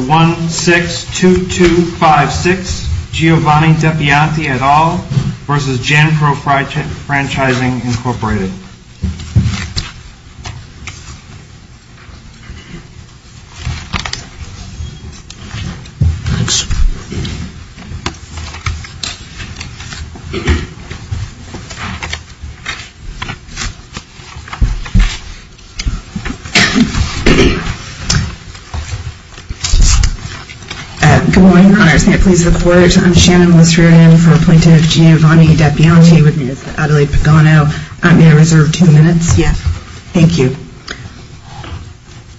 1-6-2-2-5-6 Giovanni Depianti et al. v. Jan-Pro Franchising Incorporated Good morning, Your Honors. May it please the Court, I'm Shannon Lisserian for Appointee of Giovanni Depianti v. Adelaide Pagano. May I reserve two minutes? Yes. Thank you.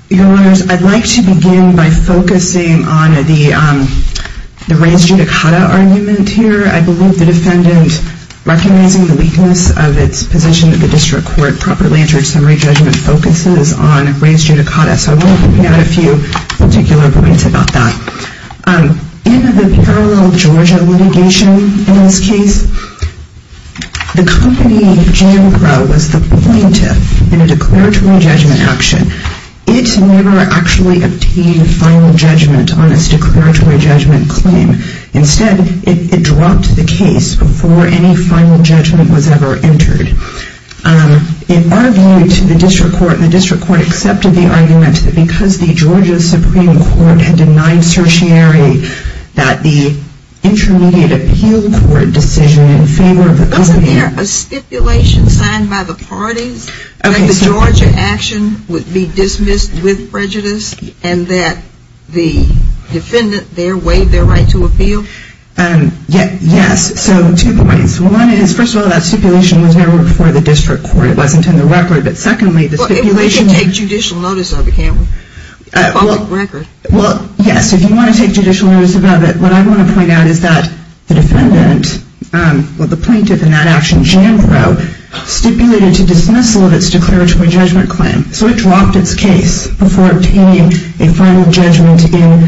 Your Honors, I'd like to begin by focusing on the raised judicata argument here. I believe the defendant recognizing the weakness of its position that the district court properly entered summary judgment focuses on raised judicata. So I want to point out a few particular points about that. In the parallel Georgia litigation in this case, the company Jan-Pro was the plaintiff in a declaratory judgment action. It never actually obtained final judgment on its declaratory judgment claim. Instead, it dropped the case before any final judgment was ever entered. In our view, the district court accepted the argument that because the Georgia Supreme Court had denied certiorari that the intermediate appeal court decision in favor of the company... Wasn't there a stipulation signed by the parties that the Georgia action would be dismissed with prejudice and that the defendant there waived their right to appeal? Yes. So two points. One is, first of all, that stipulation was never before the district court. It wasn't in the record. But secondly, the stipulation... Well, we can take judicial notice of it, can't we? Well, yes. If you want to take judicial notice of it, what I want to point out is that the defendant, well, the plaintiff in that action, Jan-Pro, stipulated to dismissal of its declaratory judgment claim. So it dropped its case before obtaining a final judgment in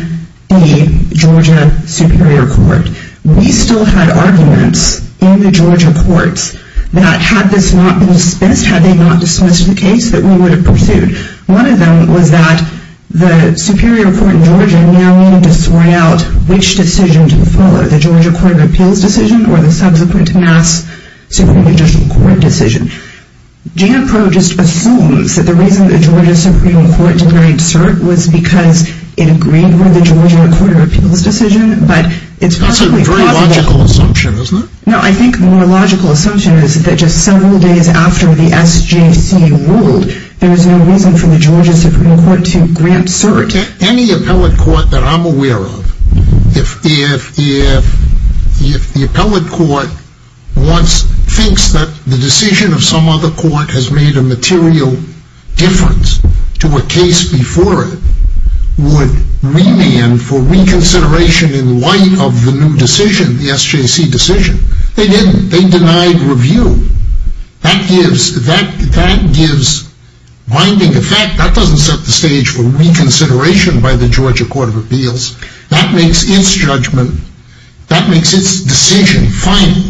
the Georgia Superior Court. We still had arguments in the Georgia courts that had this not been dismissed, had they not dismissed the case, that we would have pursued. One of them was that the Superior Court in Georgia now needed to sort out which decision to follow, the Georgia Court of Appeals decision or the subsequent mass Supreme Judicial Court decision. Jan-Pro just assumes that the reason the Georgia Supreme Court denied cert was because it agreed with the Georgia Court of Appeals decision, but it's possibly possible... That's a very logical assumption, isn't it? No, I think the more logical assumption is that just several days after the SJC ruled, there was no reason for the Georgia Supreme Court to grant cert. Any appellate court that I'm aware of, if the appellate court thinks that the decision of some other court has made a material difference to a case before it, would remand for reconsideration in light of the new decision, the SJC decision. They didn't. They denied review. That gives binding effect. That doesn't set the stage for reconsideration by the Georgia Court of Appeals. That makes its judgment, that makes its decision final.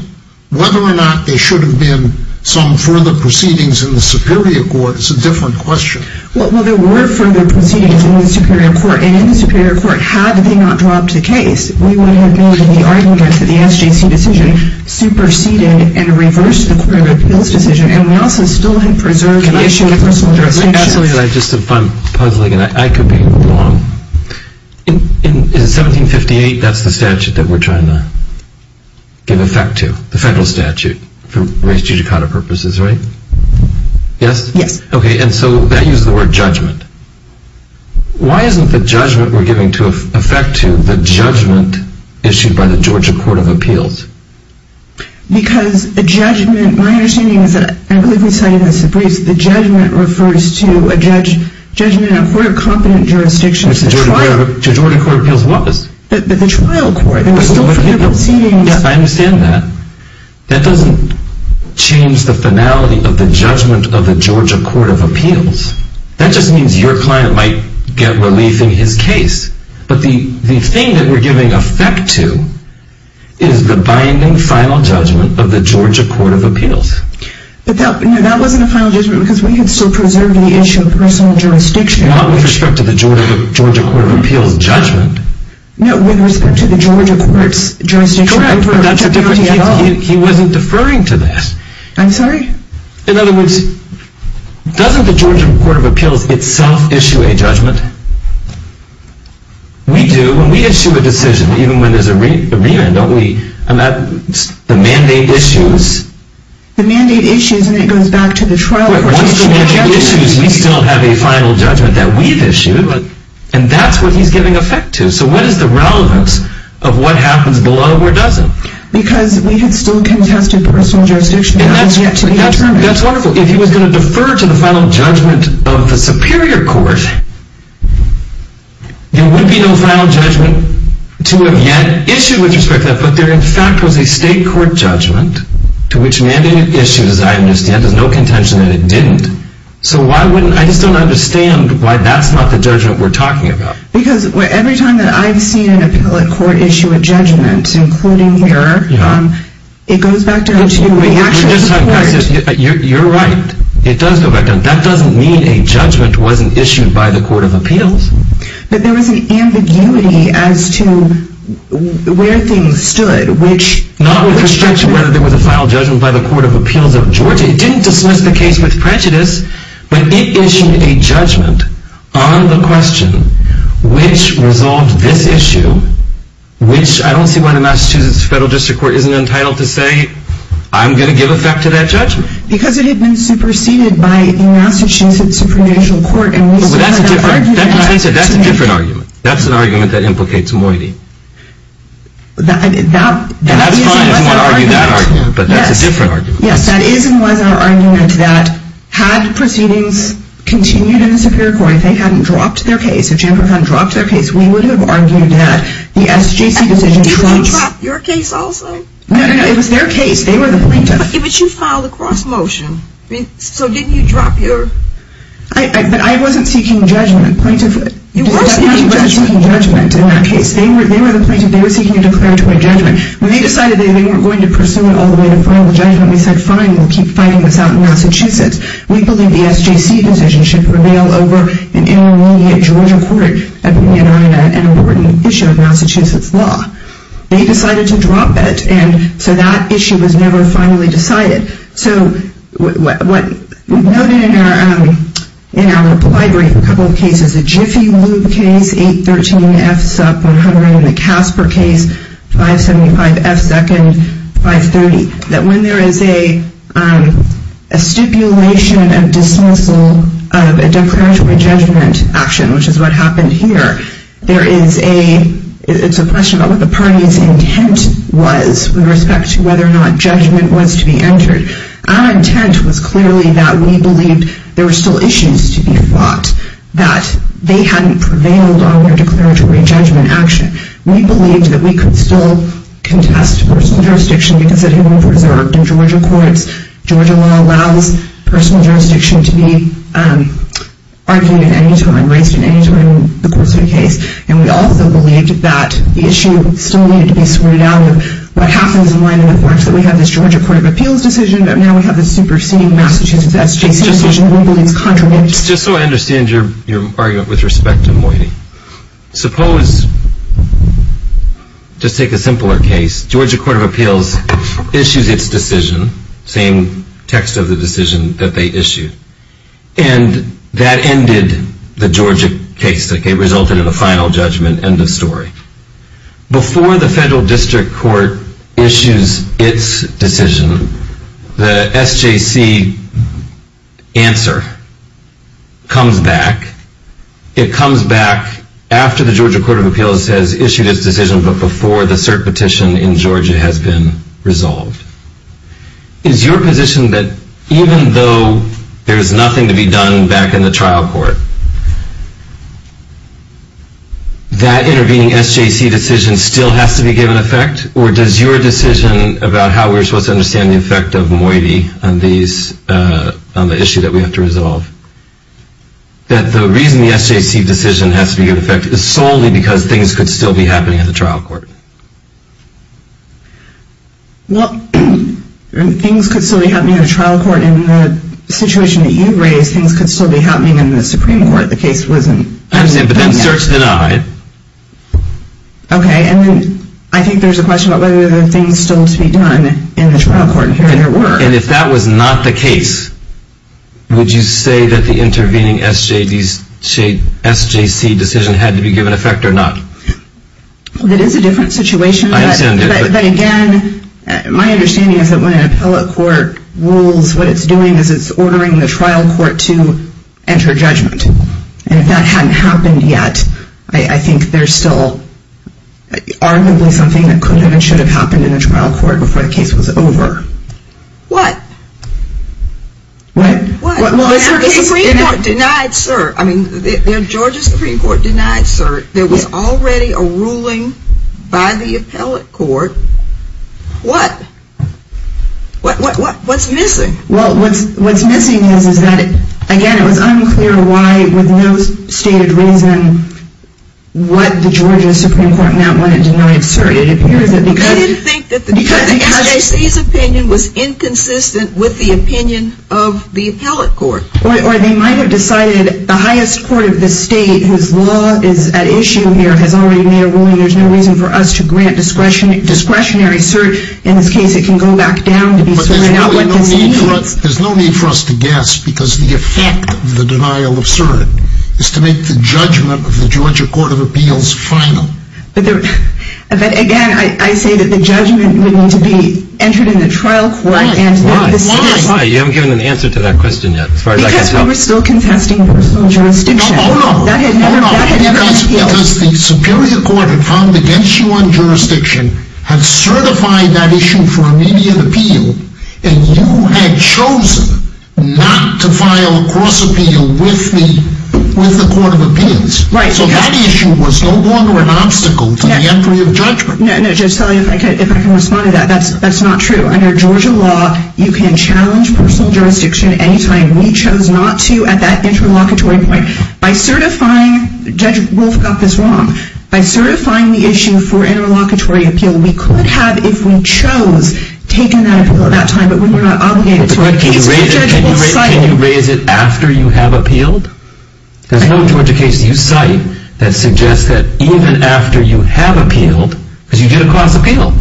Whether or not there should have been some further proceedings in the Superior Court is a different question. Well, there were further proceedings in the Superior Court, and in the Superior Court, had they not dropped the case, we would have made the argument that the SJC decision superseded and reversed the Court of Appeals decision, and we also still had preserved the issue of personal jurisdiction. Absolutely, and if I'm puzzling, I could be wrong. In 1758, that's the statute that we're trying to give effect to, the federal statute, for res judicata purposes, right? Yes. Okay, and so that uses the word judgment. Why isn't the judgment we're giving effect to the judgment issued by the Georgia Court of Appeals? Because a judgment, my understanding is that, I believe we cited this in briefs, the judgment refers to a judgment in a court of competent jurisdiction. Which the Georgia Court of Appeals was. But the trial court, there were still further proceedings. Yes, I understand that. That doesn't change the finality of the judgment of the Georgia Court of Appeals. That just means your client might get relief in his case. But the thing that we're giving effect to is the binding final judgment of the Georgia Court of Appeals. But that wasn't a final judgment because we could still preserve the issue of personal jurisdiction. Not with respect to the Georgia Court of Appeals judgment. No, with respect to the Georgia Court's jurisdiction. Correct, but that's a different case. He wasn't deferring to this. I'm sorry? In other words, doesn't the Georgia Court of Appeals itself issue a judgment? We do, and we issue a decision, even when there's a remand, don't we? And that's the mandate issues. The mandate issues, and it goes back to the trial court. Once the mandate issues, we still have a final judgment that we've issued. And that's what he's giving effect to. So what is the relevance of what happens below or doesn't? Because we had still contested personal jurisdiction. That's wonderful. If he was going to defer to the final judgment of the superior court, there would be no final judgment to have yet issued with respect to that. But there, in fact, was a state court judgment to which mandate issues, as I understand, there's no contention that it didn't. So I just don't understand why that's not the judgment we're talking about. Because every time that I've seen an appellate court issue a judgment, including here, it goes back down to the actions of the court. You're right. It does go back down. That doesn't mean a judgment wasn't issued by the Court of Appeals. But there was an ambiguity as to where things stood. Not with respect to whether there was a final judgment by the Court of Appeals of Georgia. It didn't dismiss the case with prejudice. But it issued a judgment on the question which resolved this issue, which I don't see why the Massachusetts Federal District Court isn't entitled to say, I'm going to give effect to that judgment. Because it had been superseded by the Massachusetts Supreme Judicial Court. That's a different argument. That's an argument that implicates moiety. That's fine if you want to argue that argument, but that's a different argument. Yes, that is and was our argument that had proceedings continued in the Superior Court, if they hadn't dropped their case, if Jamper had not dropped their case, we would have argued that the SJC decision... Did you drop your case also? No, no, no, it was their case. They were the plaintiff. But you filed a cross-motion. So didn't you drop your... But I wasn't seeking judgment. You were seeking judgment. I wasn't seeking judgment in that case. They were the plaintiff. They were seeking a declaratory judgment. When they decided they weren't going to pursue it all the way to final judgment, we said, fine, we'll keep fighting this out in Massachusetts. We believe the SJC decision should prevail over an intermediate Georgia court and an important issue of Massachusetts law. They decided to drop it, and so that issue was never finally decided. So what we noted in our library, a couple of cases, the Jiffy Lube case, 813-F-SUP-100, and the Casper case, 575-F-SECOND-530, that when there is a stipulation of dismissal of a declaratory judgment action, which is what happened here, it's a question about what the party's intent was with respect to whether or not judgment was to be entered. Our intent was clearly that we believed there were still issues to be fought, that they hadn't prevailed on their declaratory judgment action. We believed that we could still contest personal jurisdiction because it had been preserved in Georgia courts. Georgia law allows personal jurisdiction to be argued at any time, raised at any time in the course of a case. And we also believed that the issue still needed to be screwed down with what happens in line with the courts, that we have this Georgia Court of Appeals decision, but now we have this superseding Massachusetts SJC decision that we believe is contraband. And just so I understand your argument with respect to Moyni, suppose, just take a simpler case, Georgia Court of Appeals issues its decision, same text of the decision that they issued, and that ended the Georgia case. It resulted in a final judgment, end of story. Before the federal district court issues its decision, the SJC answer comes back. It comes back after the Georgia Court of Appeals has issued its decision, but before the cert petition in Georgia has been resolved. Is your position that even though there is nothing to be done back in the trial court, that intervening SJC decision still has to be given effect, or does your decision about how we're supposed to understand the effect of Moyni on the issue that we have to resolve, that the reason the SJC decision has to be given effect is solely because things could still be happening in the trial court? Well, things could still be happening in the trial court. In the situation that you've raised, things could still be happening in the Supreme Court. The case wasn't. I understand, but then cert's denied. Okay, and I think there's a question about whether there are things still to be done in the trial court, and here there were. And if that was not the case, would you say that the intervening SJC decision had to be given effect or not? That is a different situation. I understand it. But again, my understanding is that when an appellate court rules, what it's doing is it's ordering the trial court to enter judgment. And if that hadn't happened yet, I think there's still arguably something that could have and should have happened in the trial court before the case was over. What? What? Well, the Supreme Court denied cert. I mean, the Georgia Supreme Court denied cert. There was already a ruling by the appellate court. What? What's missing? Well, what's missing is that, again, it was unclear why, with no stated reason, what the Georgia Supreme Court meant when it denied cert. They didn't think that the SJC's opinion was inconsistent with the opinion of the appellate court. Or they might have decided the highest court of the state, whose law is at issue here, has already made a ruling. There's no reason for us to grant discretionary cert. In this case, it can go back down to be certain. There's no need for us to guess, because the effect of the denial of cert is to make the judgment of the Georgia Court of Appeals final. But, again, I say that the judgment would need to be entered in the trial court. Why? Why? Why? You haven't given an answer to that question yet, as far as I can tell. Because we were still contesting jurisdiction. Hold on. Hold on. Because the Superior Court had filed against you on jurisdiction, had certified that issue for immediate appeal, and you had chosen not to file a cross-appeal with the Court of Appeals. Right. So that issue was no longer an obstacle to the entry of judgment. No, Judge Sully, if I can respond to that, that's not true. Under Georgia law, you can challenge personal jurisdiction any time. We chose not to at that interlocutory point. By certifying... Judge Wolf got this wrong. By certifying the issue for interlocutory appeal, we could have, if we chose, taken that appeal at that time, but we were not obligated to it. But can you raise it after you have appealed? There's no Georgia case you cite that suggests that even after you have appealed, because you did a cross-appeal.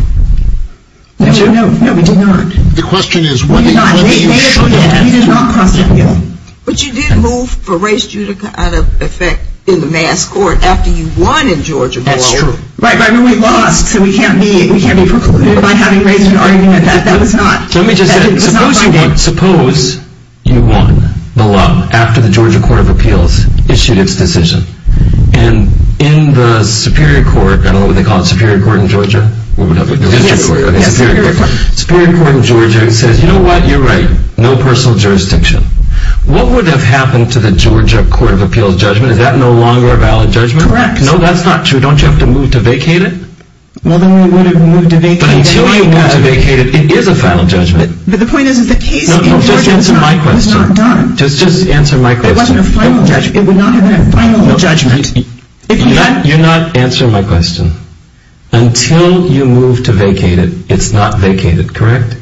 No, we did not. The question is whether you should have. We did not cross-appeal. But you did move for race judica out of effect in the mass court after you won in Georgia law. That's true. Right, but I mean, we lost, so we can't be precluded by having race judica. That was not... Let me just say, suppose you won the law after the Georgia Court of Appeals issued its decision. And in the Superior Court, I don't know what they call it, Superior Court in Georgia? Yes, Superior Court. Superior Court in Georgia says, you know what, you're right, no personal jurisdiction. What would have happened to the Georgia Court of Appeals judgment? Is that no longer a valid judgment? Correct. No, that's not true. Don't you have to move to vacate it? Well, then we would have moved to vacate it. But until you move to vacate it, it is a final judgment. But the point is that the case in Georgia was not done. Just answer my question. It wasn't a final judgment. It would not have been a final judgment. You're not answering my question. Until you move to vacate it, it's not vacated, correct?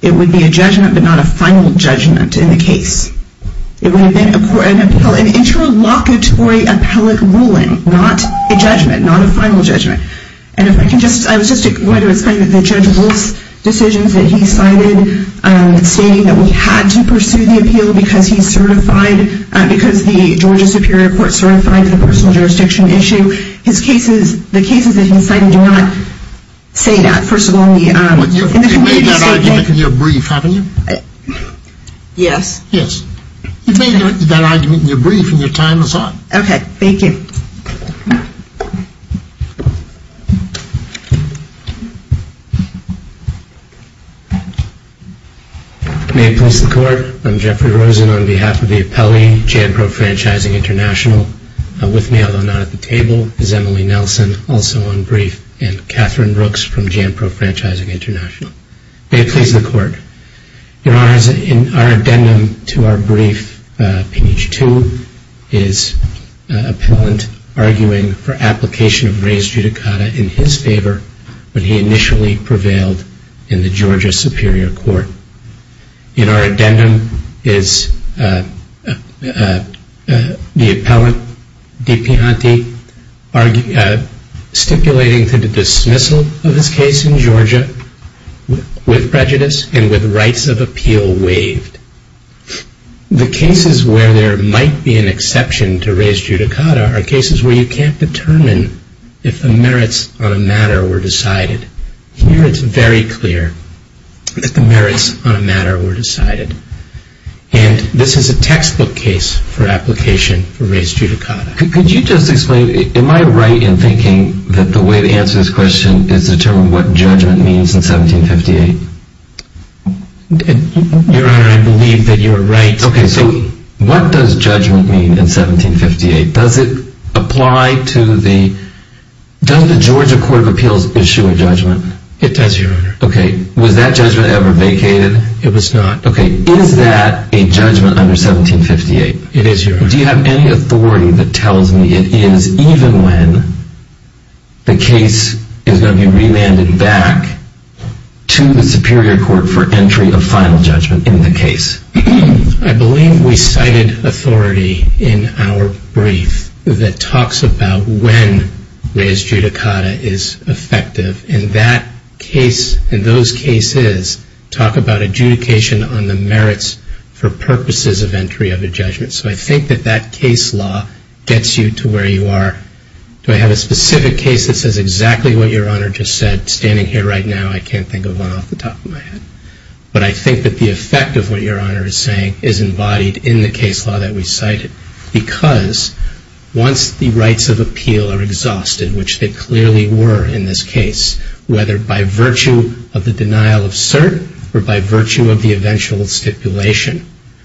It would be a judgment, but not a final judgment in the case. It would have been an interlocutory appellate ruling, not a judgment, not a final judgment. And if I can just, I was just going to explain to the judge those decisions that he cited, stating that we had to pursue the appeal because he certified, because the Georgia Superior Court certified the personal jurisdiction issue. His cases, the cases that he cited do not say that. First of all, in the committee they say that. You've made that argument in your brief, haven't you? Yes. Yes. You've made that argument in your brief, and your time is up. Okay. Thank you. May it please the Court. I'm Jeffrey Rosen on behalf of the appellee, JANPRO Franchising International. With me, although not at the table, is Emily Nelson, also on brief, and Catherine Brooks from JANPRO Franchising International. May it please the Court. In our addendum to our brief, Page 2 is an appellant arguing for application of raised judicata in his favor when he initially prevailed in the Georgia Superior Court. In our addendum is the appellant, DiPianti, stipulating to the dismissal of his case in Georgia with prejudice and with rights of appeal waived. The cases where there might be an exception to raised judicata are cases where you can't determine if the merits on a matter were decided. Here it's very clear that the merits on a matter were decided. And this is a textbook case for application for raised judicata. Could you just explain, am I right in thinking that the way to answer this question is to determine what judgment means in 1758? Your Honor, I believe that you are right. Okay, so what does judgment mean in 1758? Does it apply to the, does the Georgia Court of Appeals issue a judgment? It does, Your Honor. Okay, was that judgment ever vacated? It was not. Okay, is that a judgment under 1758? It is, Your Honor. Do you have any authority that tells me it is even when the case is going to be re-landed back to the Superior Court for entry of final judgment in the case? I believe we cited authority in our brief that talks about when raised judicata is effective, and that case and those cases talk about adjudication on the merits for purposes of entry of a judgment. So I think that that case law gets you to where you are. Do I have a specific case that says exactly what Your Honor just said? Standing here right now, I can't think of one off the top of my head. But I think that the effect of what Your Honor is saying is embodied in the case law that we cited because once the rights of appeal are exhausted, which they clearly were in this case, whether by virtue of the denial of cert or by virtue of the eventual stipulation,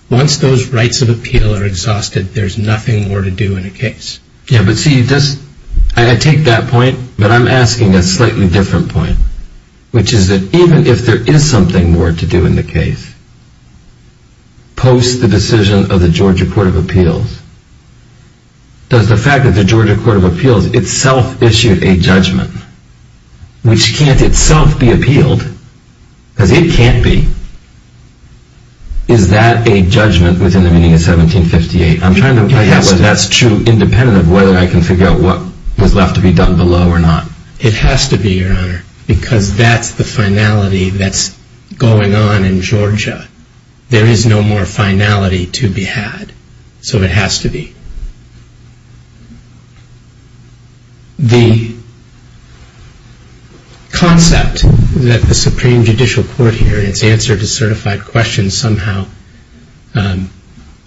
once those rights of appeal are exhausted, there's nothing more to do in a case. Yeah, but see, I take that point, but I'm asking a slightly different point, which is that even if there is something more to do in the case post the decision of the Georgia Court of Appeals, does the fact that the Georgia Court of Appeals itself issued a judgment, which can't itself be appealed, because it can't be, is that a judgment within the meaning of 1758? I'm trying to figure out whether that's true, independent of whether I can figure out what was left to be done below or not. It has to be, Your Honor, because that's the finality that's going on in Georgia. There is no more finality to be had, so it has to be. The concept that the Supreme Judicial Court here in its answer to certified questions somehow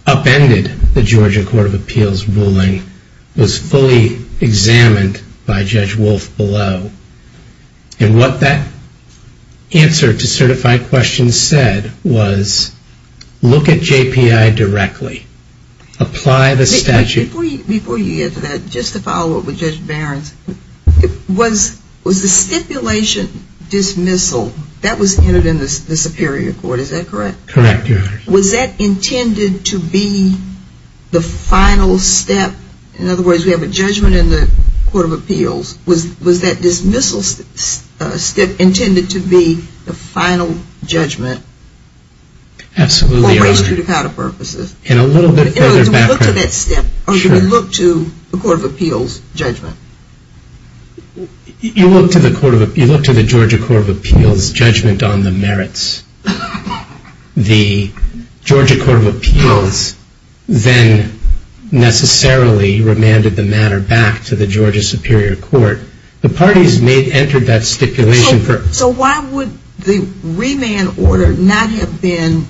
upended the Georgia Court of Appeals ruling was fully examined by Judge Wolfe below, and what that answer to certified questions said was look at JPI directly, apply the statute. Before you get to that, just to follow up with Judge Behrens, was the stipulation dismissal, that was entered in the Superior Court, is that correct? Correct, Your Honor. Was that intended to be the final step, in other words, we have a judgment in the Court of Appeals, was that dismissal step intended to be the final judgment? Absolutely, Your Honor. Or raised to the counter purposes? In a little bit further background. Do we look to that step, or do we look to the Court of Appeals judgment? You look to the Georgia Court of Appeals judgment on the merits. The Georgia Court of Appeals then necessarily remanded the matter back to the Georgia Superior Court. The parties may have entered that stipulation. So why would the remand order not have been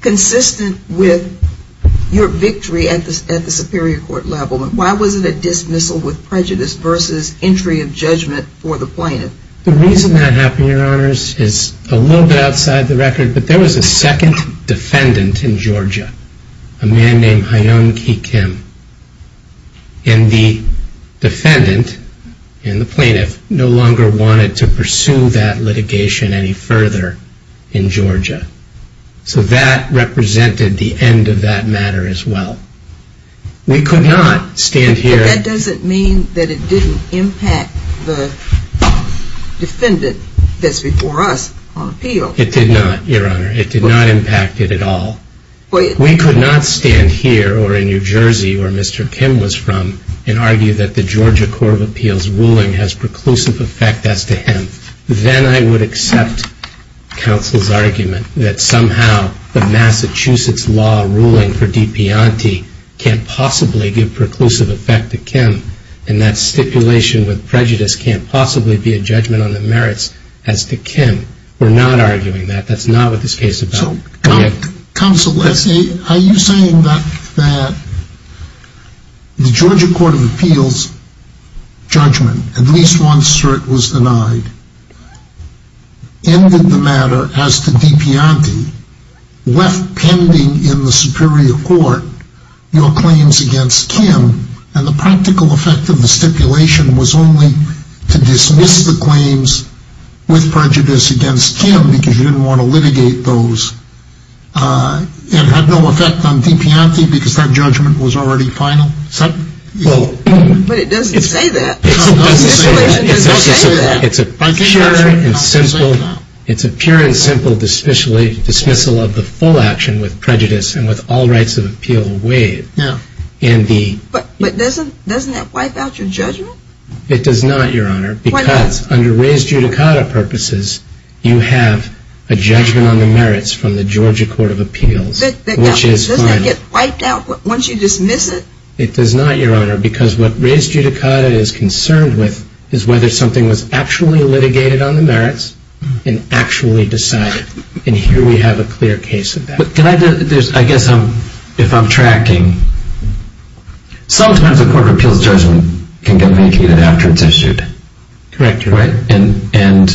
consistent with your victory at the Superior Court level? Why was it a dismissal with prejudice versus entry of judgment for the plaintiff? The reason that happened, Your Honors, is a little bit outside the record, but there was a second defendant in Georgia, a man named Hyun Ki Kim. And the defendant and the plaintiff no longer wanted to pursue that litigation any further in Georgia. So that represented the end of that matter as well. We could not stand here. That doesn't mean that it didn't impact the defendant that's before us on appeal. It did not, Your Honor. It did not impact it at all. We could not stand here or in New Jersey where Mr. Kim was from and argue that the Georgia Court of Appeals ruling has preclusive effect as to him. Then I would accept counsel's argument that somehow the Massachusetts law ruling can't possibly give preclusive effect to Kim and that stipulation with prejudice can't possibly be a judgment on the merits as to Kim. We're not arguing that. That's not what this case is about. Counsel, are you saying that the Georgia Court of Appeals judgment, at least one cert was denied, ended the matter as to DePianti left pending in the superior court your claims against Kim and the practical effect of the stipulation was only to dismiss the claims with prejudice against Kim because you didn't want to litigate those and had no effect on DePianti because that judgment was already final? But it doesn't say that. It doesn't say that. It's a pure and simple dismissal of the full action with prejudice and with all rights of appeal waived. But doesn't that wipe out your judgment? It does not, Your Honor, because under raised judicata purposes you have a judgment on the merits from the Georgia Court of Appeals, which is final. Doesn't that get wiped out once you dismiss it? It does not, Your Honor, because what raised judicata is concerned with is whether something was actually litigated on the merits and actually decided. And here we have a clear case of that. I guess if I'm tracking, sometimes a court of appeals judgment can get mitigated after it's issued. Correct, Your Honor. And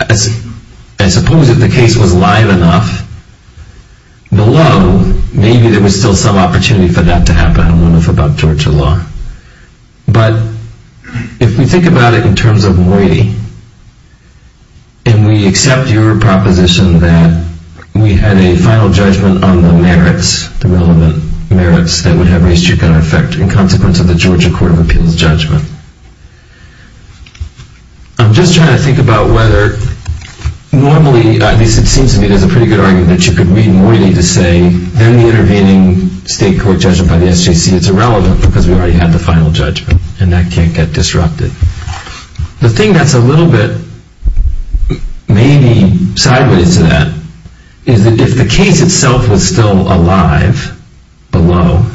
I suppose if the case was live enough, below, maybe there was still some opportunity for that to happen. I don't know enough about Georgia law. But if we think about it in terms of Moiti, and we accept your proposition that we had a final judgment on the merits, the relevant merits that would have raised judicata effect in consequence of the Georgia Court of Appeals judgment, I'm just trying to think about whether normally, at least it seems to me there's a pretty good argument that you could read Moiti to say then the intervening state court judgment by the SJC is irrelevant because we already had the final judgment. And that can't get disrupted. The thing that's a little bit maybe sideways to that is that if the case itself was still alive below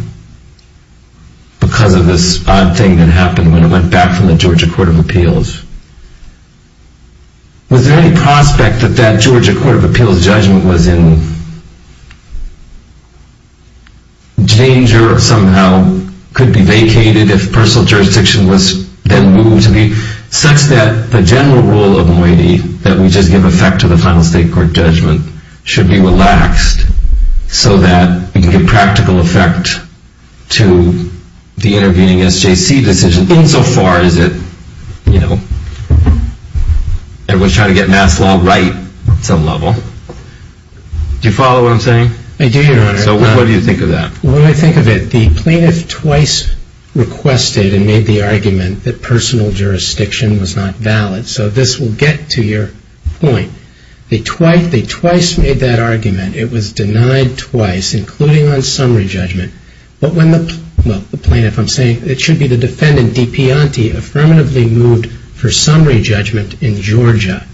because of this odd thing that happened when it went back from the Georgia Court of Appeals, was there any prospect that that Georgia Court of Appeals judgment was in danger or somehow could be vacated if personal jurisdiction was then moved such that the general rule of Moiti, that we just give effect to the final state court judgment, should be relaxed so that we can give practical effect to the intervening SJC decision insofar as it was trying to get mass law right at some level? Do you follow what I'm saying? I do, Your Honor. So what do you think of that? When I think of it, the plaintiff twice requested and made the argument that personal jurisdiction was not valid. So this will get to your point. They twice made that argument. It was denied twice, including on summary judgment. But when the plaintiff, I'm saying it should be the defendant, DePianti, affirmatively moved for summary judgment in Georgia,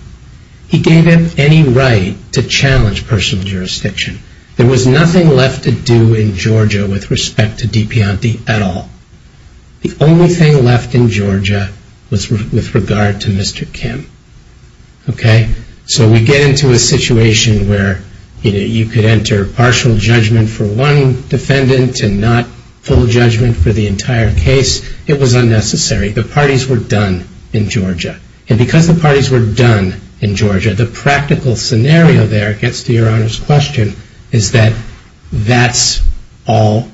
he gave him any right to challenge personal jurisdiction. There was nothing left to do in Georgia with respect to DePianti at all. The only thing left in Georgia was with regard to Mr. Kim. Okay? So we get into a situation where you could enter partial judgment for one defendant and not full judgment for the entire case. It was unnecessary. The parties were done in Georgia. And because the parties were done in Georgia, the practical scenario there gets to Your Honor's question is that that's all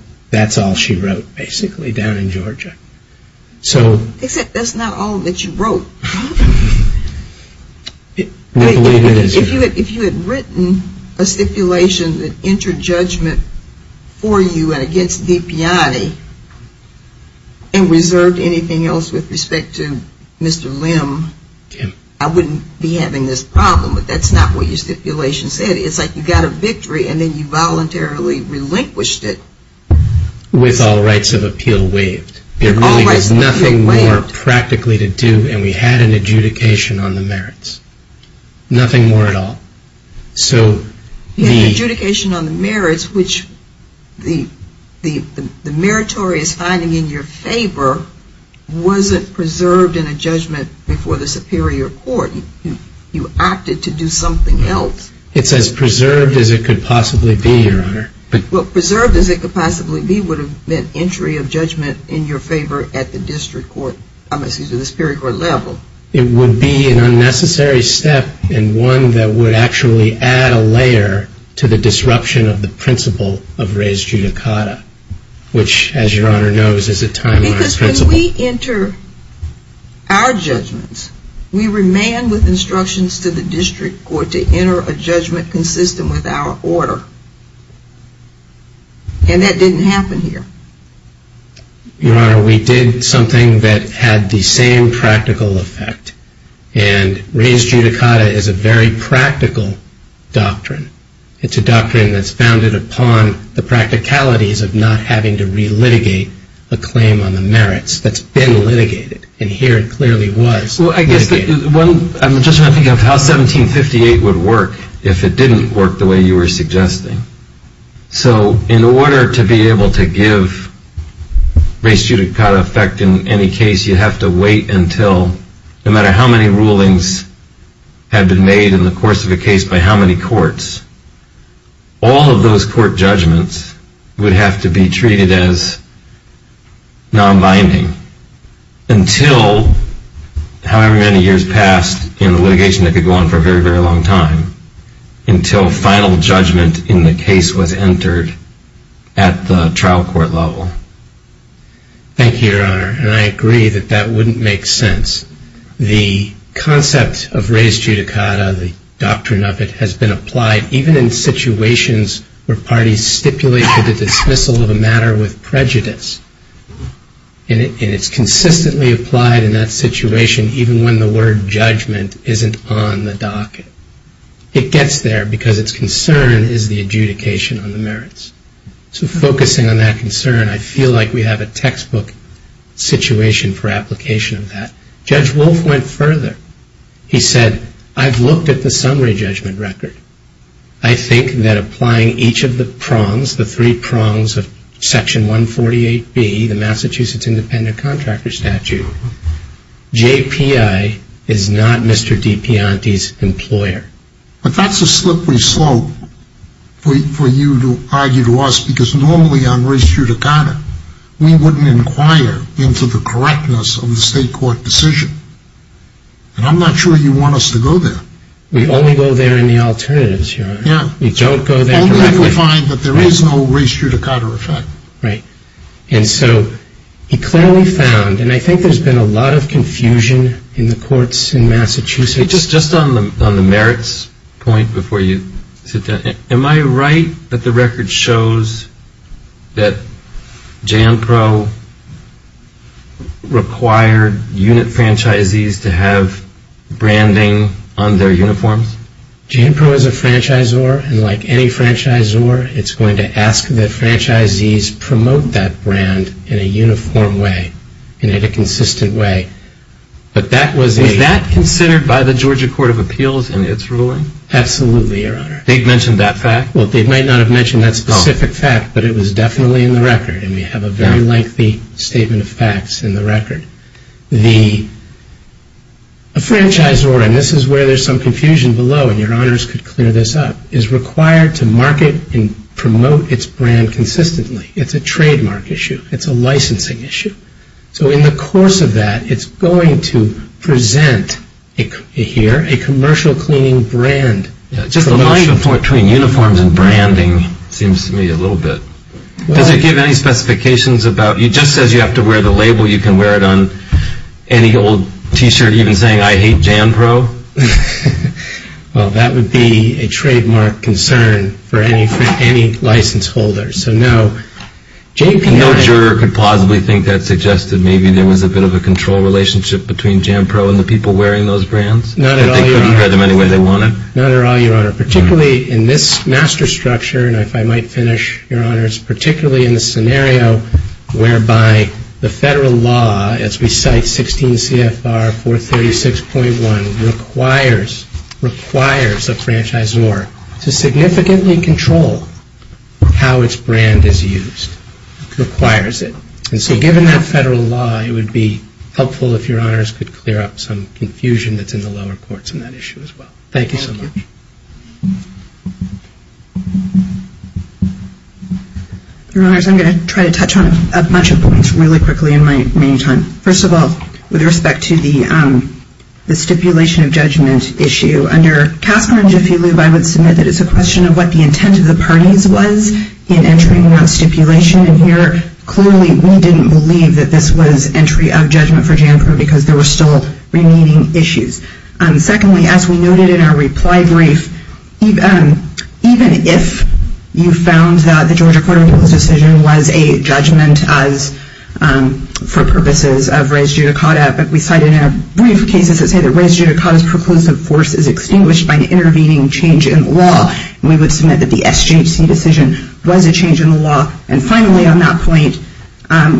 she wrote, basically, down in Georgia. Except that's not all that she wrote. If you had written a stipulation that entered judgment for you and against DePianti and reserved anything else with respect to Mr. Lim, I wouldn't be having this problem. But that's not what your stipulation said. It's like you got a victory and then you voluntarily relinquished it. With all rights of appeal waived. It really has nothing more practically to do, and we had an adjudication on the merits. Nothing more at all. The adjudication on the merits, which the meritorious finding in your favor, wasn't preserved in a judgment before the superior court. You acted to do something else. It's as preserved as it could possibly be, Your Honor. Well, preserved as it could possibly be would have meant entry of judgment in your favor at the district court, excuse me, the superior court level. It would be an unnecessary step and one that would actually add a layer to the disruption of the principle of res judicata, which, as Your Honor knows, is a time-honored principle. Because when we enter our judgments, we remain with instructions to the district court to enter a judgment consistent with our order. And that didn't happen here. Your Honor, we did something that had the same practical effect. And res judicata is a very practical doctrine. It's a doctrine that's founded upon the practicalities of not having to relitigate a claim on the merits. That's been litigated, and here it clearly was. I'm just trying to think of how 1758 would work if it didn't work the way you were suggesting. So in order to be able to give res judicata effect in any case, you have to wait until, no matter how many rulings have been made in the course of a case by how many courts, all of those court judgments would have to be treated as non-binding until, however many years passed in the litigation that could go on for a very, very long time, until final judgment in the case was entered at the trial court level. Thank you, Your Honor. And I agree that that wouldn't make sense. The concept of res judicata, the doctrine of it, has been applied even in situations where parties stipulate for the dismissal of a matter with prejudice. And it's consistently applied in that situation even when the word judgment isn't on the docket. It gets there because its concern is the adjudication on the merits. So focusing on that concern, I feel like we have a textbook situation for application of that. Judge Wolf went further. He said, I've looked at the summary judgment record. I think that applying each of the prongs, the three prongs of Section 148B, the Massachusetts Independent Contractor Statute, JPI is not Mr. DiPianti's employer. But that's a slippery slope for you to argue to us because normally on res judicata, we wouldn't inquire into the correctness of the state court decision. And I'm not sure you want us to go there. We only go there in the alternatives, Your Honor. Yeah. We don't go there directly. Only if we find that there is no res judicata effect. Right. And so he clearly found, and I think there's been a lot of confusion in the courts in Massachusetts. Just on the merits point before you sit down, Am I right that the record shows that JANPRO required unit franchisees to have branding on their uniforms? JANPRO is a franchisor, and like any franchisor, it's going to ask that franchisees promote that brand in a uniform way, in a consistent way. Was that considered by the Georgia Court of Appeals in its ruling? Absolutely, Your Honor. They'd mentioned that fact? Well, they might not have mentioned that specific fact, but it was definitely in the record, and we have a very lengthy statement of facts in the record. The franchisor, and this is where there's some confusion below, and Your Honors could clear this up, is required to market and promote its brand consistently. It's a trademark issue. It's a licensing issue. So in the course of that, it's going to present here a commercial cleaning brand promotion. Just the line between uniforms and branding seems to me a little bit. Does it give any specifications about, it just says you have to wear the label, you can wear it on any old T-shirt, even saying, I hate JANPRO? Well, that would be a trademark concern for any license holder, so no. No juror could possibly think that suggested maybe there was a bit of a control relationship between JANPRO and the people wearing those brands? Not at all, Your Honor. Not at all, Your Honor. Particularly in this master structure, and if I might finish, Your Honors, particularly in the scenario whereby the federal law, as we cite 16 CFR 436.1, requires a franchisor to significantly control how its brand is used. It requires it. And so given that federal law, it would be helpful if Your Honors could clear up some confusion that's in the lower courts on that issue as well. Thank you so much. Thank you. Your Honors, I'm going to try to touch on a bunch of points really quickly in my remaining time. First of all, with respect to the stipulation of judgment issue, under Casper and Jafilov, I would submit that it's a question of what the intent of the parties was in entering that stipulation. And here, clearly, we didn't believe that this was entry of judgment for JANPRO because there were still remaining issues. Secondly, as we noted in our reply brief, even if you found that the Georgia Court of Appeals decision was a judgment for purposes of res judicata, but we cited in our brief cases that say that res judicata's preclusive force is extinguished by an intervening change in law, and we would submit that the SJC decision was a change in the law. And finally, on that point,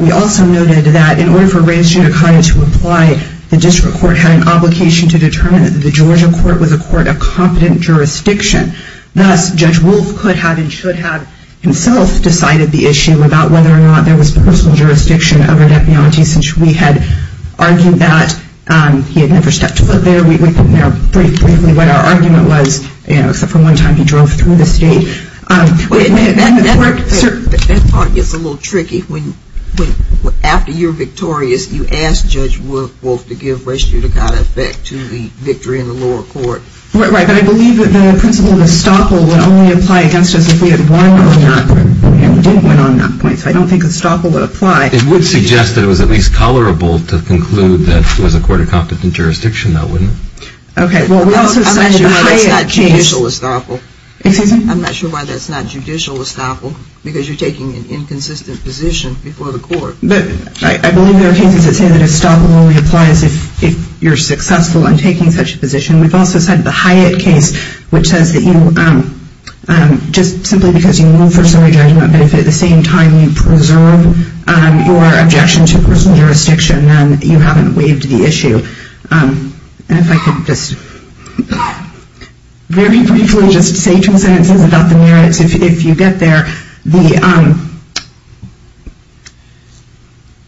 we also noted that in order for res judicata to apply, the district court had an obligation to determine that the Georgia court was a court of competent jurisdiction. Thus, Judge Wolf could have and should have himself decided the issue about whether or not there was personal jurisdiction over deputanty, since we had argued that he had never stepped foot there. We put in our brief what our argument was, except for one time he drove through the state. That part gets a little tricky. After you're victorious, you ask Judge Wolf to give res judicata effect to the victory in the lower court. Right, but I believe that the principle of estoppel would only apply against us if we had won or not, and we didn't win on that point, so I don't think estoppel would apply. It would suggest that it was at least tolerable to conclude that it was a court of competent jurisdiction, though, wouldn't it? I'm not sure why that's not judicial estoppel. Excuse me? I'm not sure why that's not judicial estoppel, because you're taking an inconsistent position before the court. I believe there are cases that say that estoppel only applies if you're successful in taking such a position. We've also said the Hyatt case, which says that you, just simply because you move for summary judgment, but if at the same time you preserve your objection to personal jurisdiction, then you haven't waived the issue. And if I could just very briefly just say two sentences about the merits, if you get there.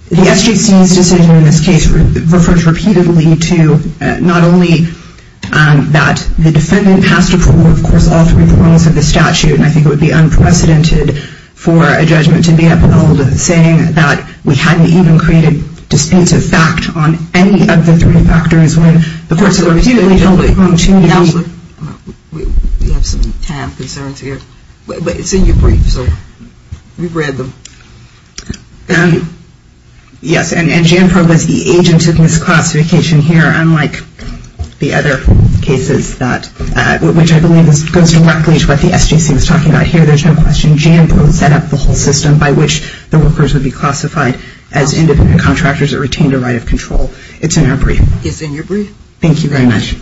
The SJC's decision in this case refers repeatedly to not only that the defendant passed a court rule, of course all three court rules have the statute, and I think it would be unprecedented for a judgment to be upheld saying that we hadn't even created a dispensive fact on any of the three factors when the courts have repeatedly come to the conclusion. We have some time concerns here, but it's in your brief, so we've read them. Yes, and JANPRO was the agent of misclassification here, unlike the other cases, which I believe goes directly to what the SJC was talking about here. There's no question JANPRO set up the whole system by which the workers would be classified as independent contractors that retained a right of control. It's in our brief. It's in your brief. Thank you very much.